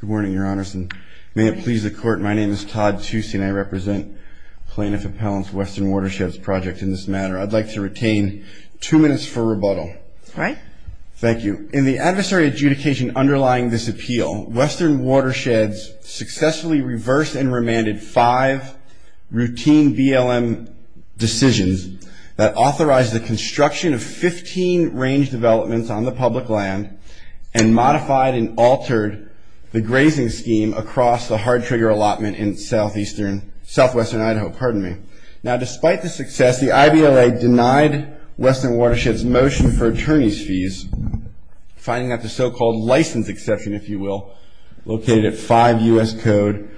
Good morning, Your Honors, and may it please the Court, my name is Todd Tucci and I represent Plaintiff Appellant's Western Watersheds Project in this matter. I'd like to retain two minutes for rebuttal. All right. Thank you. In the adversary adjudication underlying this appeal, Western Watersheds successfully reversed and remanded five routine BLM decisions that authorized the construction of 15 range developments on the public land and modified and altered the grazing scheme across the hard trigger allotment in southeastern, southwestern Idaho, pardon me. Now, despite the success, the IBLA denied Western Watersheds' motion for attorneys' fees, finding that the so-called license exception, if you will, located at 5 U.S. Code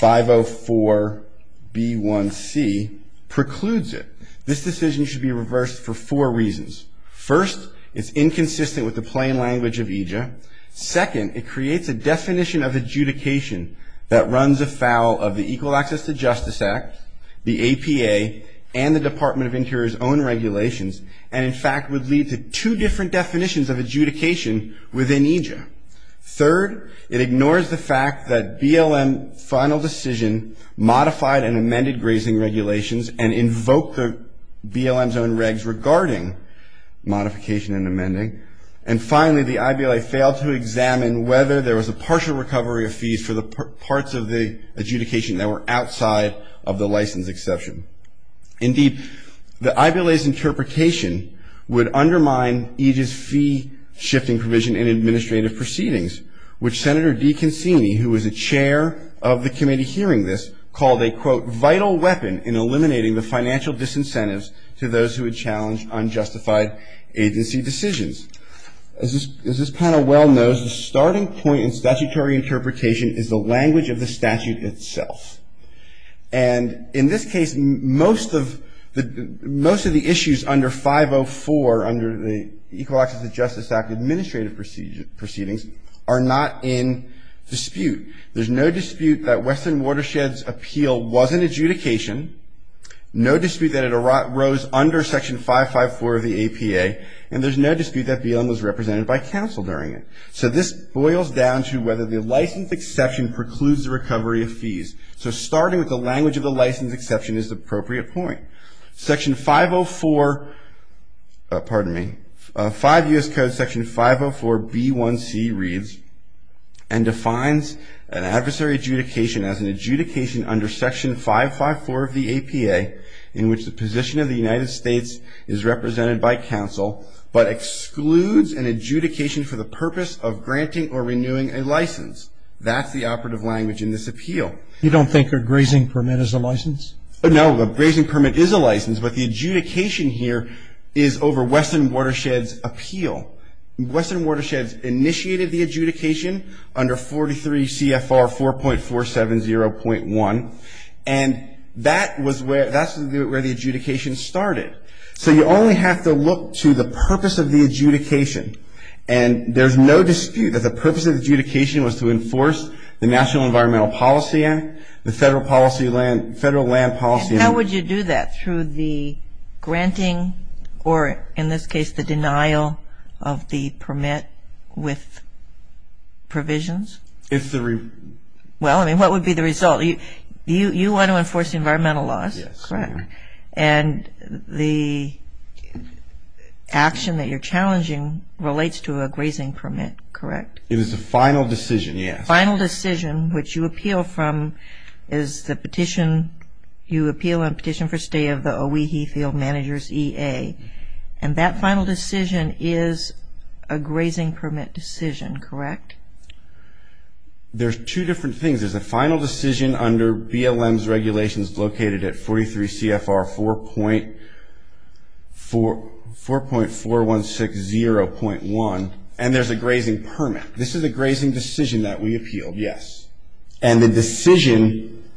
504B1C precludes it. This decision should be reversed for four reasons. First, it's inconsistent with the plain language of EJA. Second, it creates a definition of adjudication that runs afoul of the Equal Access to Justice Act, the APA, and the Department of Interior's own regulations and, in fact, would lead to two different definitions of adjudication within EJA. Third, it ignores the fact that BLM final decision modified and amended grazing regulations and invoked the BLM's own regs regarding modification and amending. And finally, the IBLA failed to examine whether there was a partial recovery of fees for the parts of the adjudication that were outside of the license exception. Indeed, the IBLA's interpretation would undermine EJA's fee-shifting provision in administrative proceedings, which Senator DeConcini, who was a chair of the committee hearing this, called a, quote, vital weapon in eliminating the financial disincentives to those who would challenge unjustified agency decisions. As this panel well knows, the starting point in statutory interpretation is the language of the statute itself. And in this case, most of the issues under 504, under the Equal Access to Justice Act administrative proceedings, are not in dispute. There's no dispute that Western Watershed's appeal was an adjudication, no dispute that it arose under Section 554 of the APA, and there's no dispute that BLM was represented by counsel during it. So this boils down to whether the license exception precludes the recovery of fees. So starting with the language of the license exception is the appropriate point. Section 504, pardon me, 5 U.S. Code Section 504B1C reads, and defines an adversary adjudication as an adjudication under Section 554 of the APA in which the position of the United States is represented by counsel, but excludes an adjudication for the purpose of granting or renewing a license. That's the operative language in this appeal. You don't think a grazing permit is a license? No, a grazing permit is a license, but the adjudication here is over Western Watershed's appeal. Western Watershed's initiated the adjudication under 43 CFR 4.470.1, and that's where the adjudication started. So you only have to look to the purpose of the adjudication, and there's no dispute that the purpose of the adjudication was to enforce the National Environmental Policy Act, the Federal Land Policy Act. And how would you do that? Through the granting or, in this case, the denial of the permit with provisions? Well, I mean, what would be the result? You want to enforce the environmental laws, correct? Yes. And the action that you're challenging relates to a grazing permit, correct? It was a final decision, yes. Final decision, which you appeal from is the petition. You appeal a petition for stay of the Owehee Field Managers EA, and that final decision is a grazing permit decision, correct? There's two different things. There's a final decision under BLM's regulations located at 43 CFR 4.4160.1, and there's a grazing permit. This is a grazing decision that we appealed, yes. And the decision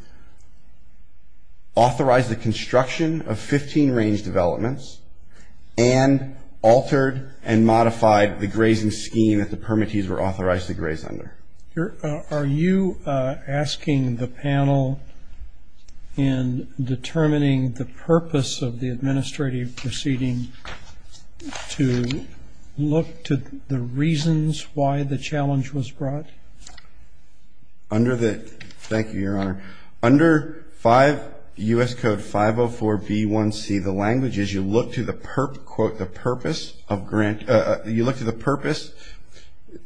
authorized the construction of 15 range developments and altered and modified the grazing scheme that the permittees were authorized to graze under. Are you asking the panel in determining the purpose of the administrative proceeding to look to the reasons why the challenge was brought? Thank you, Your Honor. Under 5 U.S. Code 504b1c, the language is you look to the purpose.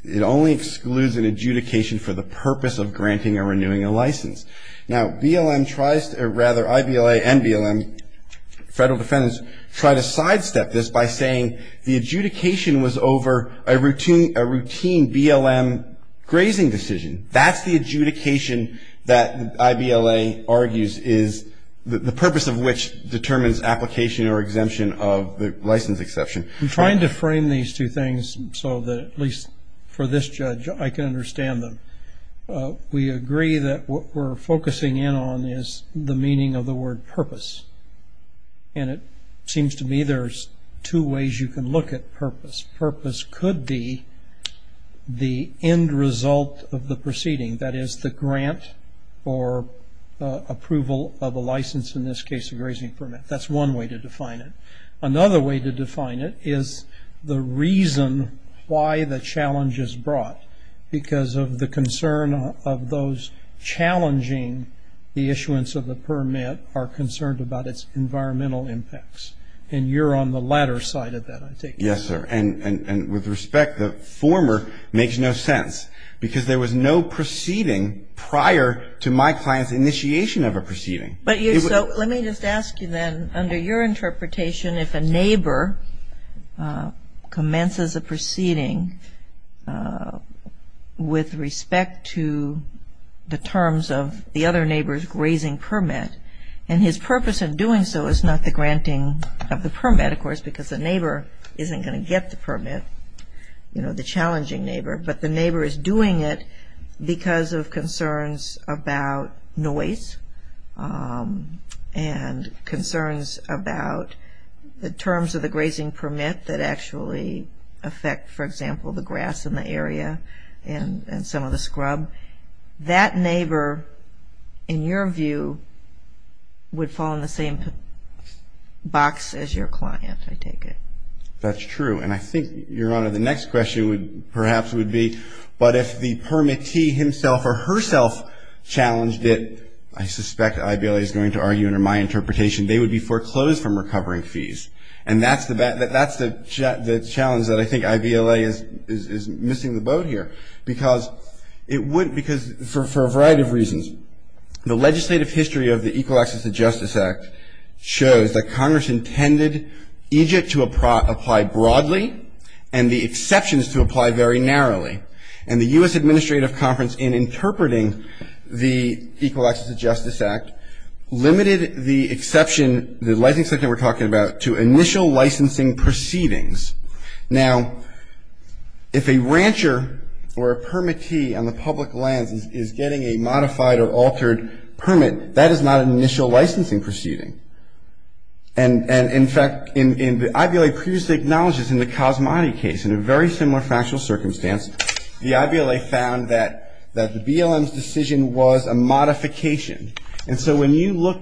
It only excludes an adjudication for the purpose of granting or renewing a license. Now, BLM tries to, or rather, IBLA and BLM, federal defendants, try to sidestep this by saying the adjudication was over a routine BLM grazing decision. That's the adjudication that IBLA argues is the purpose of which determines application or exemption of the license exception. I'm trying to frame these two things so that at least for this judge I can understand them. We agree that what we're focusing in on is the meaning of the word purpose. And it seems to me there's two ways you can look at purpose. Purpose could be the end result of the proceeding, that is, the grant or approval of a license, in this case a grazing permit. That's one way to define it. Another way to define it is the reason why the challenge is brought because of the concern of those challenging the issuance of the permit are concerned about its environmental impacts. And you're on the latter side of that, I take it. Yes, sir. And with respect, the former makes no sense because there was no proceeding prior to my client's initiation of a proceeding. So let me just ask you then, under your interpretation, if a neighbor commences a proceeding with respect to the terms of the other neighbor's grazing permit and his purpose in doing so is not the granting of the permit, of course, because the neighbor isn't going to get the permit, you know, the challenging neighbor, but the neighbor is doing it because of concerns about noise and concerns about the terms of the grazing permit that actually affect, for example, the grass in the area and some of the scrub, that neighbor, in your view, would fall in the same box as your client, I take it. That's true. And I think, Your Honor, the next question would perhaps would be, but if the permittee himself or herself challenged it, I suspect IVLA is going to argue under my interpretation, they would be foreclosed from recovering fees. And that's the challenge that I think IVLA is missing the boat here. Because for a variety of reasons, the legislative history of the Equal Access to Justice Act shows that Congress intended Egypt to apply broadly and the exceptions to apply very narrowly. And the U.S. Administrative Conference, in interpreting the Equal Access to Justice Act, limited the exception, the licensing section we're talking about, to initial licensing proceedings. Now, if a rancher or a permittee on the public lands is getting a modified or altered permit, that is not an initial licensing proceeding. And, in fact, IVLA previously acknowledges in the Cosmati case, in a very similar factual circumstance, the IVLA found that the BLM's decision was a modification. And so when you look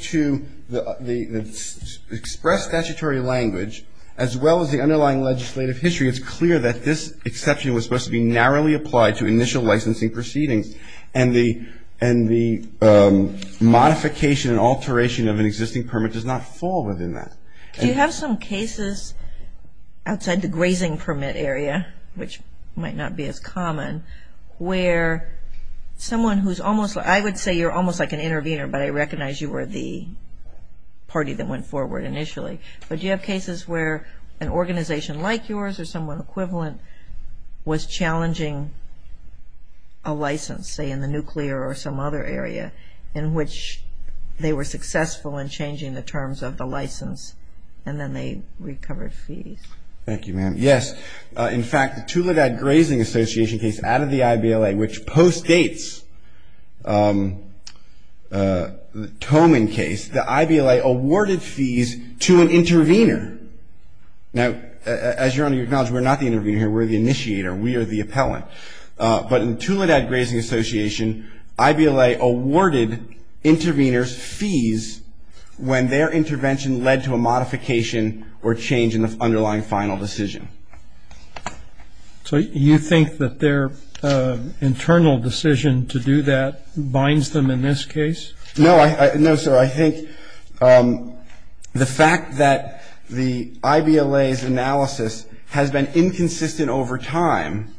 to the expressed statutory language, as well as the underlying legislative history, it's clear that this exception was supposed to be narrowly applied to initial licensing proceedings. And the modification and alteration of an existing permit does not fall within that. Do you have some cases outside the grazing permit area, which might not be as common, where someone who's almost, I would say you're almost like an intervener, but I recognize you were the party that went forward initially. But do you have cases where an organization like yours or someone equivalent was challenging a license, say in the nuclear or some other area, in which they were successful in changing the terms of the license, and then they recovered fees? Thank you, ma'am. Yes. In fact, the Tuladad Grazing Association case out of the IVLA, which postdates the Toman case, the IVLA awarded fees to an intervener. Now, as Your Honor, you acknowledge we're not the intervener here. We're the initiator. We are the appellant. But in Tuladad Grazing Association, IVLA awarded interveners fees when their intervention led to a modification or change in the underlying final decision. So you think that their internal decision to do that binds them in this case? No, sir. So I think the fact that the IVLA's analysis has been inconsistent over time,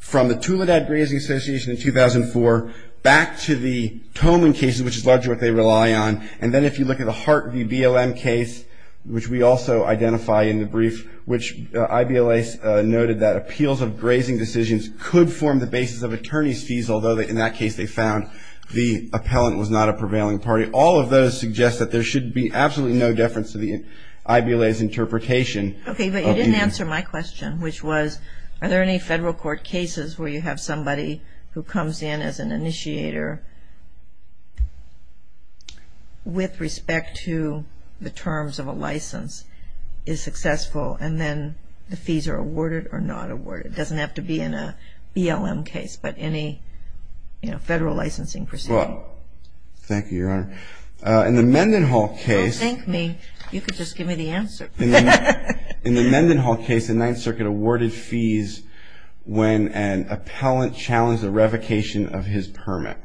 from the Tuladad Grazing Association in 2004 back to the Toman case, which is largely what they rely on, and then if you look at the Hart v. BLM case, which we also identify in the brief, which IVLA noted that appeals of grazing decisions could form the basis of attorney's fees, although in that case they found the appellant was not a prevailing party. All of those suggest that there should be absolutely no difference to the IVLA's interpretation. Okay, but you didn't answer my question, which was, are there any federal court cases where you have somebody who comes in as an initiator with respect to the terms of a license is successful, and then the fees are awarded or not awarded? It doesn't have to be in a BLM case, but any federal licensing proceeding. Well, thank you, Your Honor. In the Mendenhall case. Oh, thank me. You could just give me the answer. In the Mendenhall case, the Ninth Circuit awarded fees when an appellant challenged the revocation of his permit.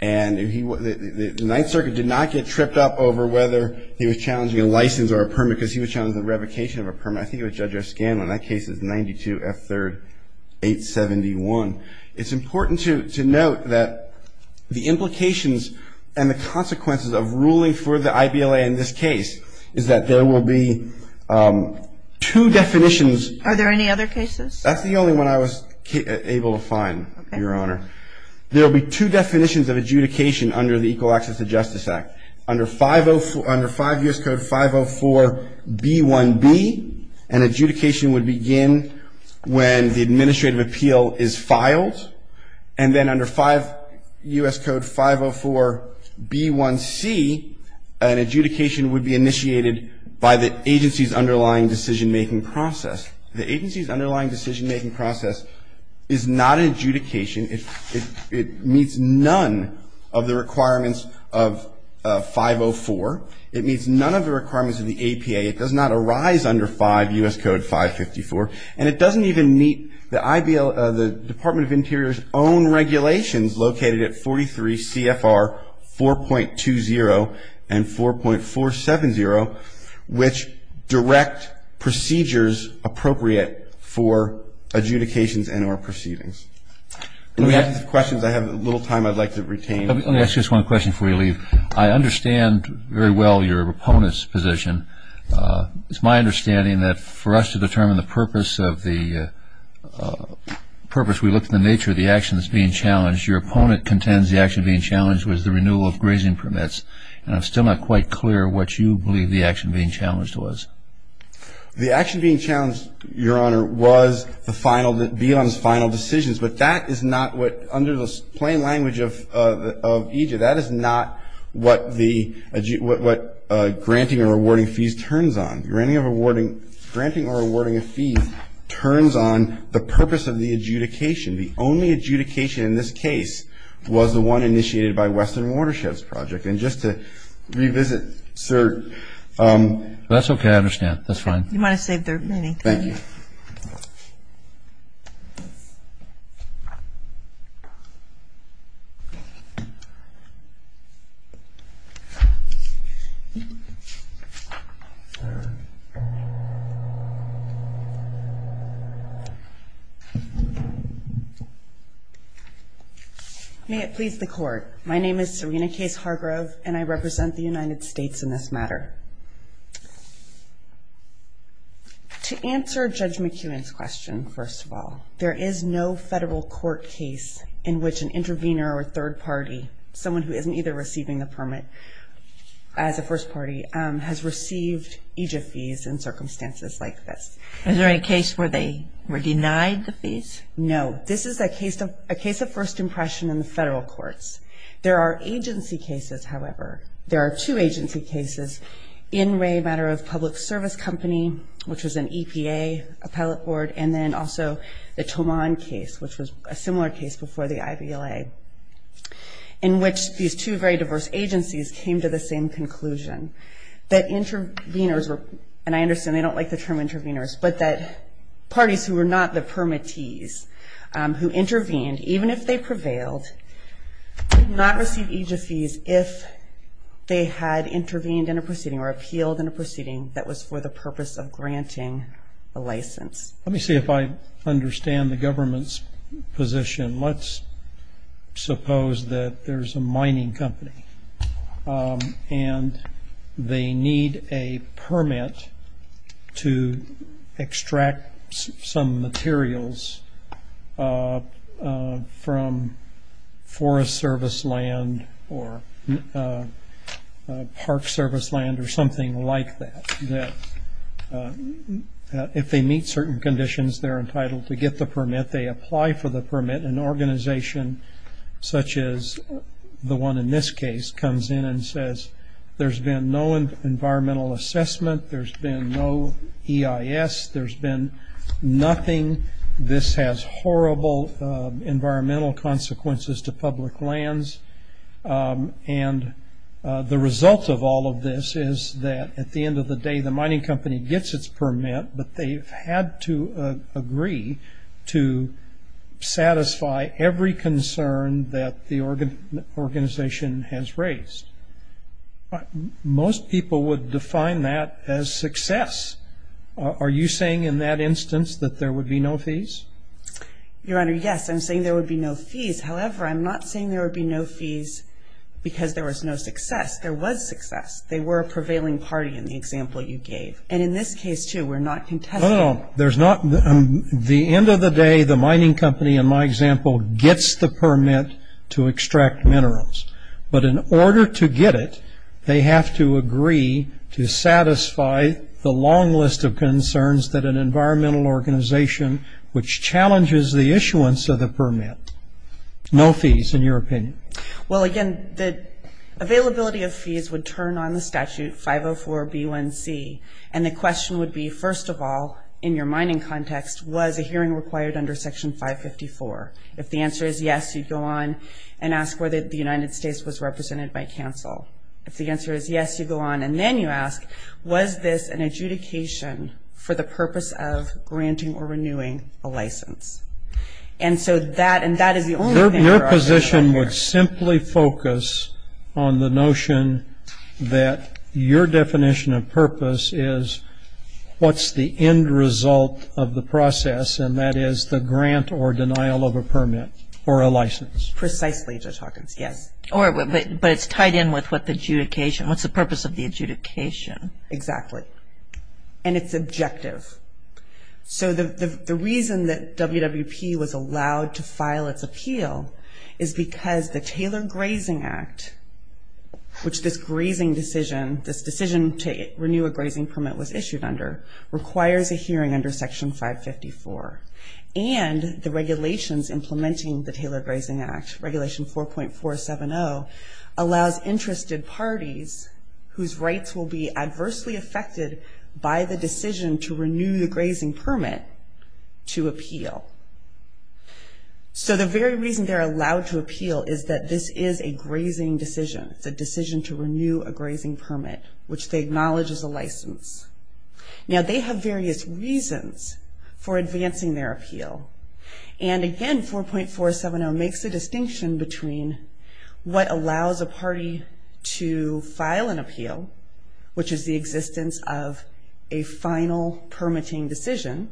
And the Ninth Circuit did not get tripped up over whether he was challenging a license or a permit because he was challenging the revocation of a permit. I think it was Judge F. Scanlon. That case is 92 F. 3rd 871. It's important to note that the implications and the consequences of ruling for the IVLA in this case is that there will be two definitions. Are there any other cases? That's the only one I was able to find, Your Honor. There will be two definitions of adjudication under the Equal Access to Justice Act. Under 5 U.S. Code 504B1B, an adjudication would begin when the administrative appeal is filed. And then under 5 U.S. Code 504B1C, an adjudication would be initiated by the agency's underlying decision-making process. The agency's underlying decision-making process is not an adjudication. It meets none of the requirements of 504. It meets none of the requirements of the APA. It does not arise under 5 U.S. Code 554. And it doesn't even meet the Department of Interior's own regulations located at 43 CFR 4.20 and 4.470, which direct procedures appropriate for adjudications and or proceedings. In the absence of questions, I have a little time I'd like to retain. Let me ask just one question before we leave. I understand very well your opponent's position. It's my understanding that for us to determine the purpose of the purpose, we looked at the nature of the actions being challenged. Your opponent contends the action being challenged was the renewal of grazing permits. And I'm still not quite clear what you believe the action being challenged was. The action being challenged, Your Honor, was the final, BILOM's final decisions. But that is not what, under the plain language of EJ, that is not what granting or awarding fees turns on. Granting or awarding a fee turns on the purpose of the adjudication. The only adjudication in this case was the one initiated by Western Watersheds Project. And just to revisit, sir. That's okay. I understand. That's fine. You might have saved their meeting. Thank you. May it please the Court. My name is Serena Case Hargrove, and I represent the United States in this matter. To answer Judge McEwen's question, first of all, there is no federal court case in which an intervener or a third party, someone who isn't either receiving the permit as a first party, has received EJF fees in circumstances like this. Is there a case where they were denied the fees? No. This is a case of first impression in the federal courts. There are agency cases, however. There are two agency cases, In Re, a matter of public service company, which was an EPA appellate board, and then also the Tomon case, which was a similar case before the IVLA, in which these two very diverse agencies came to the same conclusion, that interveners were, and I understand they don't like the term interveners, but that parties who were not the permittees who intervened, even if they prevailed, did not receive EJF fees if they had intervened in a proceeding or appealed in a proceeding that was for the purpose of granting a license. Let me see if I understand the government's position. Let's suppose that there's a mining company and they need a permit to extract some materials from forest service land or park service land or something like that. If they meet certain conditions, they're entitled to get the permit. If they apply for the permit, an organization such as the one in this case comes in and says there's been no environmental assessment, there's been no EIS, there's been nothing, this has horrible environmental consequences to public lands, and the result of all of this is that at the end of the day the mining company gets its permit, but they've had to agree to satisfy every concern that the organization has raised. Most people would define that as success. Are you saying in that instance that there would be no fees? Your Honor, yes, I'm saying there would be no fees. However, I'm not saying there would be no fees because there was no success. There was success. They were a prevailing party in the example you gave. And in this case, too, we're not contesting. No, no, there's not. At the end of the day, the mining company, in my example, gets the permit to extract minerals. But in order to get it, they have to agree to satisfy the long list of concerns that an environmental organization which challenges the issuance of the permit. No fees, in your opinion. Well, again, the availability of fees would turn on the statute, 504B1C, and the question would be, first of all, in your mining context, was a hearing required under Section 554? If the answer is yes, you'd go on and ask whether the United States was represented by counsel. If the answer is yes, you'd go on and then you ask, was this an adjudication for the purpose of granting or renewing a license? And so that is the only thing for our discussion here. I would simply focus on the notion that your definition of purpose is what's the end result of the process, and that is the grant or denial of a permit or a license. Precisely, Judge Hawkins, yes. But it's tied in with what the adjudication, what's the purpose of the adjudication. Exactly. And it's objective. So the reason that WWP was allowed to file its appeal is because the Taylor Grazing Act, which this grazing decision, this decision to renew a grazing permit was issued under, requires a hearing under Section 554. And the regulations implementing the Taylor Grazing Act, Regulation 4.470, allows interested parties whose rights will be adversely affected by the decision to renew the grazing permit to appeal. So the very reason they're allowed to appeal is that this is a grazing decision. It's a decision to renew a grazing permit, which they acknowledge is a license. Now, they have various reasons for advancing their appeal. And, again, 4.470 makes a distinction between what allows a party to file an appeal, which is the existence of a final permitting decision,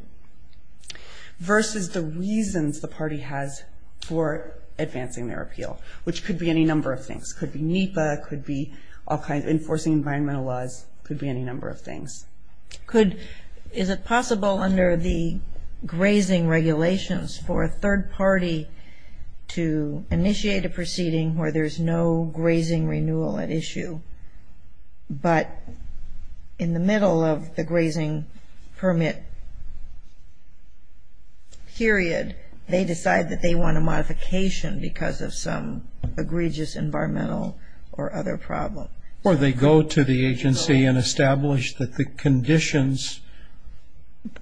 versus the reasons the party has for advancing their appeal, which could be any number of things. It could be NEPA. It could be all kinds of enforcing environmental laws. It could be any number of things. Is it possible under the grazing regulations for a third party to initiate a proceeding where there's no grazing renewal at issue, but in the middle of the grazing permit period, they decide that they want a modification because of some egregious environmental or other problem? Or they go to the agency and establish that the conditions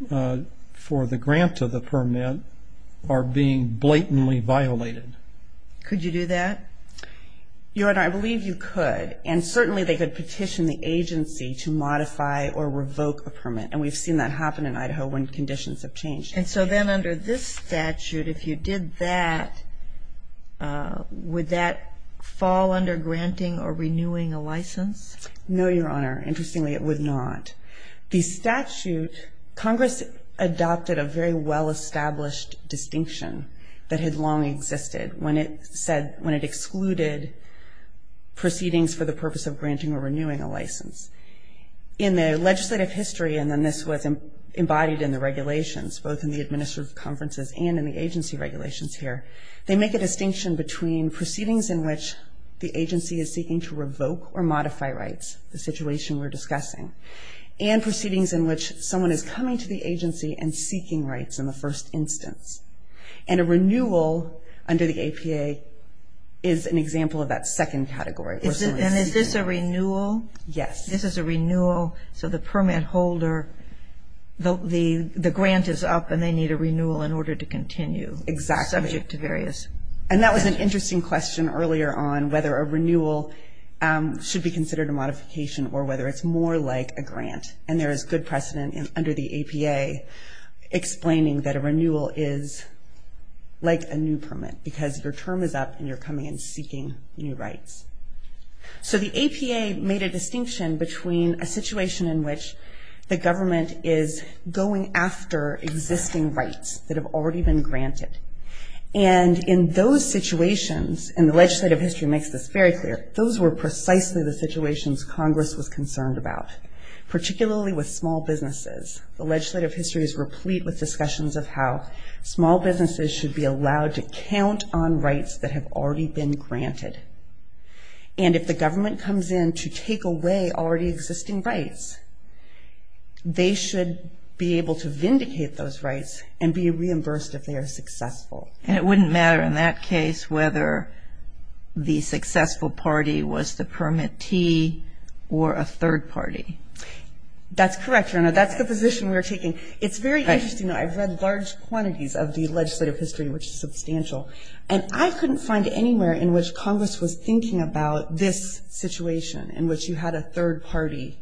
for the grant of the permit are being blatantly violated. Could you do that? I believe you could. And certainly they could petition the agency to modify or revoke a permit. And we've seen that happen in Idaho when conditions have changed. And so then under this statute, if you did that, would that fall under granting or renewing a license? No, Your Honor. Interestingly, it would not. The statute, Congress adopted a very well-established distinction that had long existed when it said, when it excluded proceedings for the purpose of granting or renewing a license. In the legislative history, and then this was embodied in the regulations, both in the administrative conferences and in the agency regulations here, they make a distinction between proceedings in which the agency is seeking to revoke or modify rights, the situation we're discussing, and proceedings in which someone is coming to the agency and seeking rights in the first instance. And a renewal under the APA is an example of that second category. And is this a renewal? Yes. This is a renewal. So the permit holder, the grant is up and they need a renewal in order to continue. Exactly. Subject to various. And that was an interesting question earlier on whether a renewal should be considered a modification or whether it's more like a grant. And there is good precedent under the APA explaining that a renewal is like a new permit because your term is up and you're coming and seeking new rights. So the APA made a distinction between a situation in which the government is going after existing rights that have already been granted. And in those situations, and the legislative history makes this very clear, those were precisely the situations Congress was concerned about, particularly with small businesses. The legislative history is replete with discussions of how small businesses should be allowed to count on rights that have already been granted. And if the government comes in to take away already existing rights, they should be able to vindicate those rights and be reimbursed if they are successful. And it wouldn't matter in that case whether the successful party was the permittee or a third party. That's correct, Your Honor. That's the position we're taking. It's very interesting, though. I've read large quantities of the legislative history, which is substantial. And I couldn't find anywhere in which Congress was thinking about this situation in which you had a third party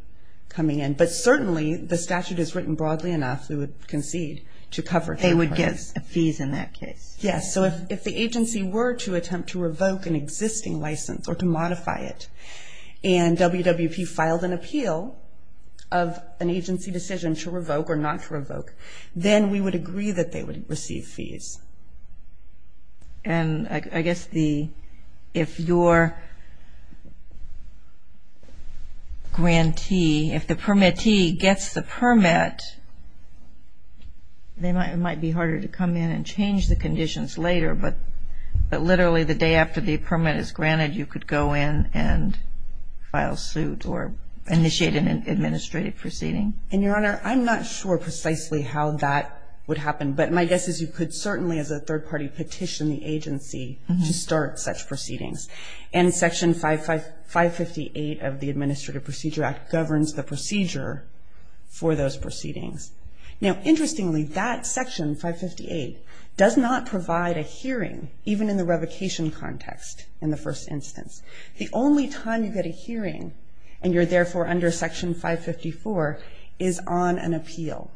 coming in. But certainly the statute is written broadly enough, we would concede, to cover third parties. They would get fees in that case. Yes, so if the agency were to attempt to revoke an existing license or to modify it and WWP filed an appeal of an agency decision to revoke or not to revoke, then we would agree that they would receive fees. And I guess if your grantee, if the permittee gets the permit, it might be harder to come in and change the conditions later, but literally the day after the permit is granted, you could go in and file suit or initiate an administrative proceeding. And, Your Honor, I'm not sure precisely how that would happen. But my guess is you could certainly as a third party petition the agency to start such proceedings. And Section 558 of the Administrative Procedure Act governs the procedure for those proceedings. Now, interestingly, that Section 558 does not provide a hearing, even in the revocation context in the first instance. The only time you get a hearing and you're therefore under Section 554 is on an appeal.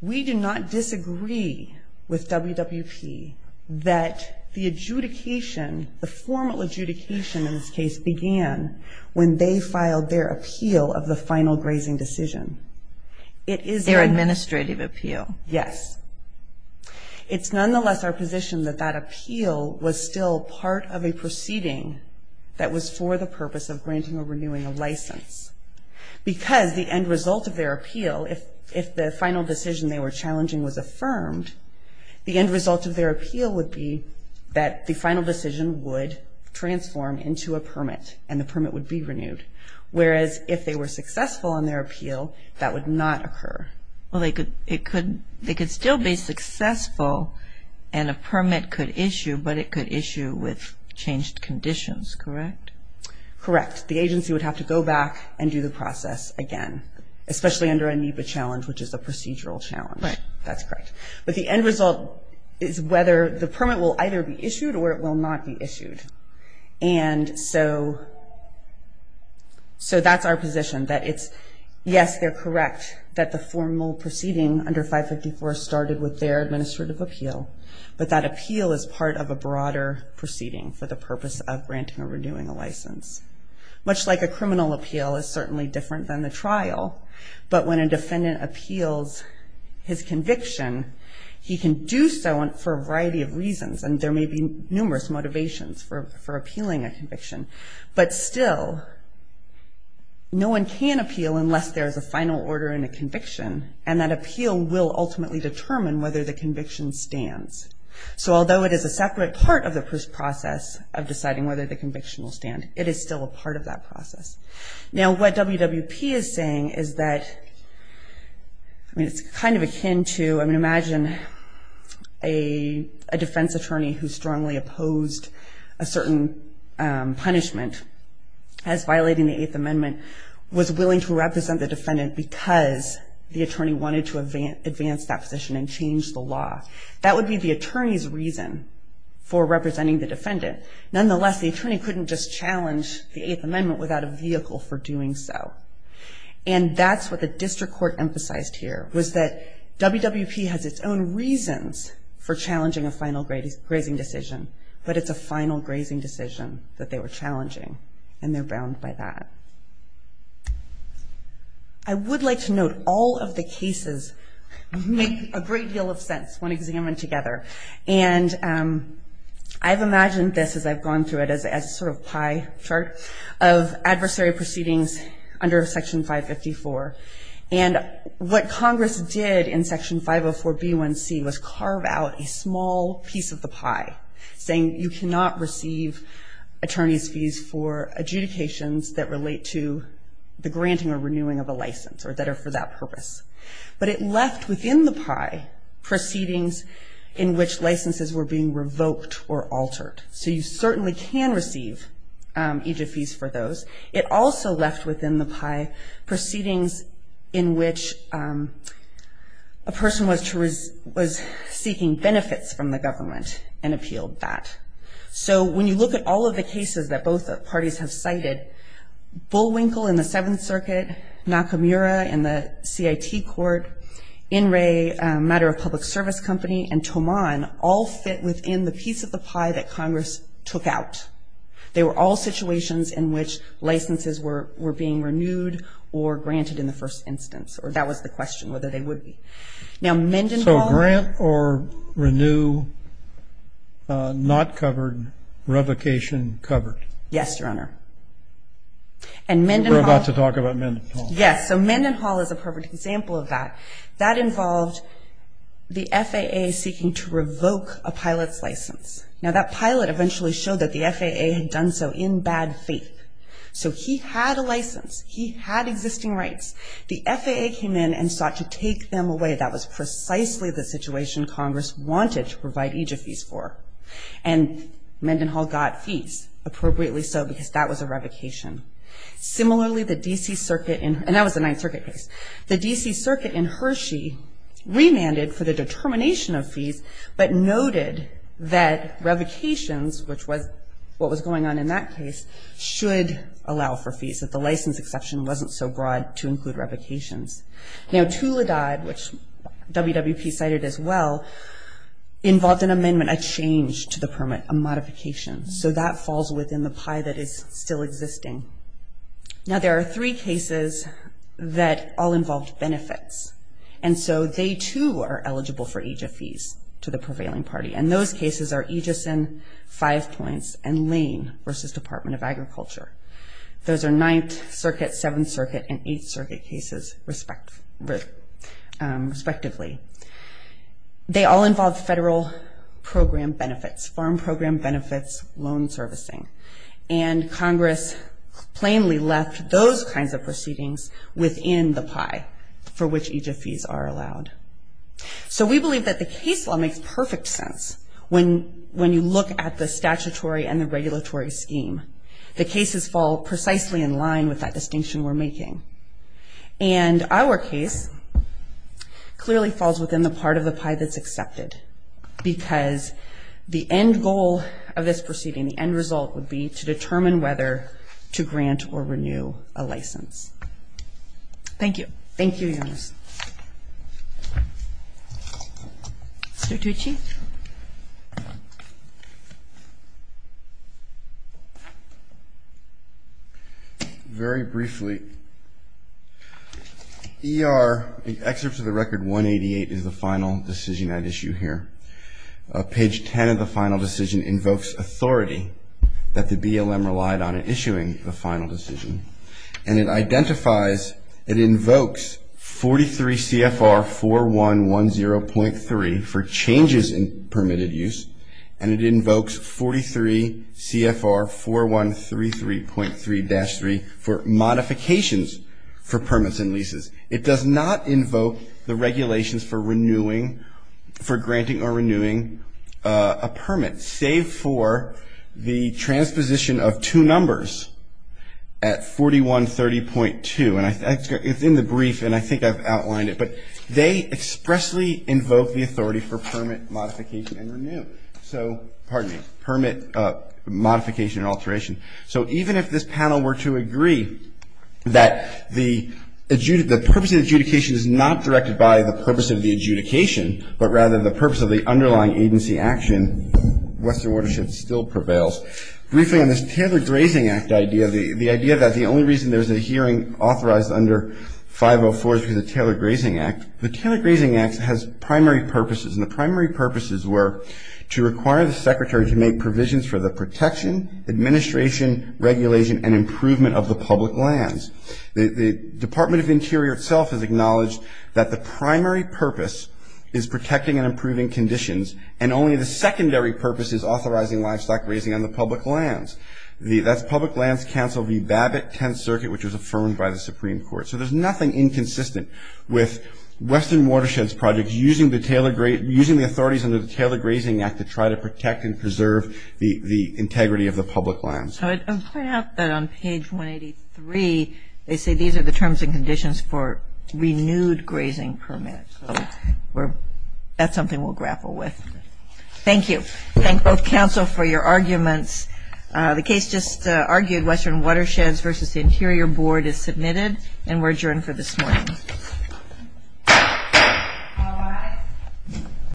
We do not disagree with WWP that the adjudication, the formal adjudication in this case, began when they filed their appeal of the final grazing decision. It is their administrative appeal. Yes. It's nonetheless our position that that appeal was still part of a proceeding that was for the purpose of granting or renewing a license. Because the end result of their appeal, if the final decision they were challenging was affirmed, the end result of their appeal would be that the final decision would transform into a permit and the permit would be renewed. Whereas if they were successful in their appeal, that would not occur. Well, they could still be successful and a permit could issue, but it could issue with changed conditions, correct? Correct. The agency would have to go back and do the process again, especially under a NEPA challenge, which is a procedural challenge. Right. That's correct. But the end result is whether the permit will either be issued or it will not be issued. And so that's our position, that it's, yes, they're correct that the formal proceeding under 554 started with their administrative appeal, but that appeal is part of a broader proceeding for the purpose of granting or renewing a license. Much like a criminal appeal is certainly different than the trial, but when a defendant appeals his conviction, he can do so for a variety of reasons, and there may be numerous motivations for appealing a conviction. But still, no one can appeal unless there is a final order and a conviction, and that appeal will ultimately determine whether the conviction stands. So although it is a separate part of the process of deciding whether the conviction will stand, it is still a part of that process. Now, what WWP is saying is that, I mean, it's kind of akin to, I mean, imagine a defense attorney who strongly opposed a certain punishment as violating the Eighth Amendment was willing to represent the defendant because the attorney wanted to advance that position and change the law. That would be the attorney's reason for representing the defendant. Nonetheless, the attorney couldn't just challenge the Eighth Amendment without a vehicle for doing so, and that's what the district court emphasized here, was that WWP has its own reasons for challenging a final grazing decision, but it's a final grazing decision that they were challenging, and they're bound by that. I would like to note all of the cases make a great deal of sense when examined together, and I've imagined this as I've gone through it as a sort of pie chart of adversary proceedings under Section 554, and what Congress did in Section 504B1C was carve out a small piece of the pie, saying you cannot receive attorney's fees for adjudications that relate to the granting or renewing of a license or that are for that purpose. But it left within the pie proceedings in which licenses were being revoked or altered. So you certainly can receive EJF fees for those. It also left within the pie proceedings in which a person was seeking benefits from the government and appealed that. So when you look at all of the cases that both parties have cited, Bullwinkle in the Seventh Circuit, Nakamura in the CIT Court, In Re, a matter of public service company, and Tomon all fit within the piece of the pie that Congress took out. They were all situations in which licenses were being renewed or granted in the first instance, or that was the question, whether they would be. Now, Mendenhall. So grant or renew, not covered, revocation covered? Yes, Your Honor. And Mendenhall. We're about to talk about Mendenhall. Yes. So Mendenhall is a perfect example of that. That involved the FAA seeking to revoke a pilot's license. Now, that pilot eventually showed that the FAA had done so in bad faith. So he had a license. He had existing rights. The FAA came in and sought to take them away. That was precisely the situation Congress wanted to provide EJF fees for. And Mendenhall got fees, appropriately so, because that was a revocation. Similarly, the D.C. Circuit, and that was the Ninth Circuit case, the D.C. Circuit in Hershey remanded for the determination of fees, but noted that revocations, which was what was going on in that case, should allow for fees, that the license exception wasn't so broad to include revocations. Now, Tula Dodd, which WWP cited as well, involved an amendment, a change to the permit, a modification. So that falls within the pie that is still existing. Now, there are three cases that all involved benefits. And so they, too, are eligible for EJF fees to the prevailing party. And those cases are Egison, Five Points, and Lane versus Department of Agriculture. Those are Ninth Circuit, Seventh Circuit, and Eighth Circuit cases, respectively. They all involve federal program benefits, farm program benefits, loan servicing. And Congress plainly left those kinds of proceedings within the pie for which EJF fees are allowed. So we believe that the case law makes perfect sense when you look at the statutory and the regulatory scheme. The cases fall precisely in line with that distinction we're making. And our case clearly falls within the part of the pie that's accepted because the end goal of this proceeding, the end result, would be to determine whether to grant or renew a license. Thank you. Thank you, Eunice. Mr. Tucci? Very briefly, ER, the excerpt to the record 188 is the final decision I'd issue here. Page 10 of the final decision invokes authority that the BLM relied on in issuing the final decision. And it identifies, it invokes 43 CFR 4110.3 for changes in permitted use. And it invokes 43 CFR 4133.3-3 for modifications for permits and leases. It does not invoke the regulations for renewing, for granting or renewing a permit, save for the transposition of two numbers at 4130.2. And it's in the brief, and I think I've outlined it. But they expressly invoke the authority for permit modification and renew. So, pardon me, permit modification and alteration. So even if this panel were to agree that the purpose of the adjudication is not directed by the purpose of the adjudication, but rather the purpose of the underlying agency action, Western Watershed still prevails. Briefly on this Taylor Grazing Act idea, the idea that the only reason there's a hearing authorized under 504 is because of the Taylor Grazing Act. The Taylor Grazing Act has primary purposes. And the primary purposes were to require the secretary to make provisions for the protection, administration, regulation, and improvement of the public lands. The Department of Interior itself has acknowledged that the primary purpose is protecting and improving conditions, and only the secondary purpose is authorizing livestock grazing on the public lands. That's Public Lands Council v. Babbitt, 10th Circuit, which was affirmed by the Supreme Court. So there's nothing inconsistent with Western Watersheds Project using the authorities under the Taylor Grazing Act to try to protect and preserve the integrity of the public lands. I would point out that on page 183, they say these are the terms and conditions for renewed grazing permits. So that's something we'll grapple with. Thank you. Thank both Council for your arguments. The case just argued, Western Watersheds v. Interior Board, is submitted. And we're adjourned for this morning.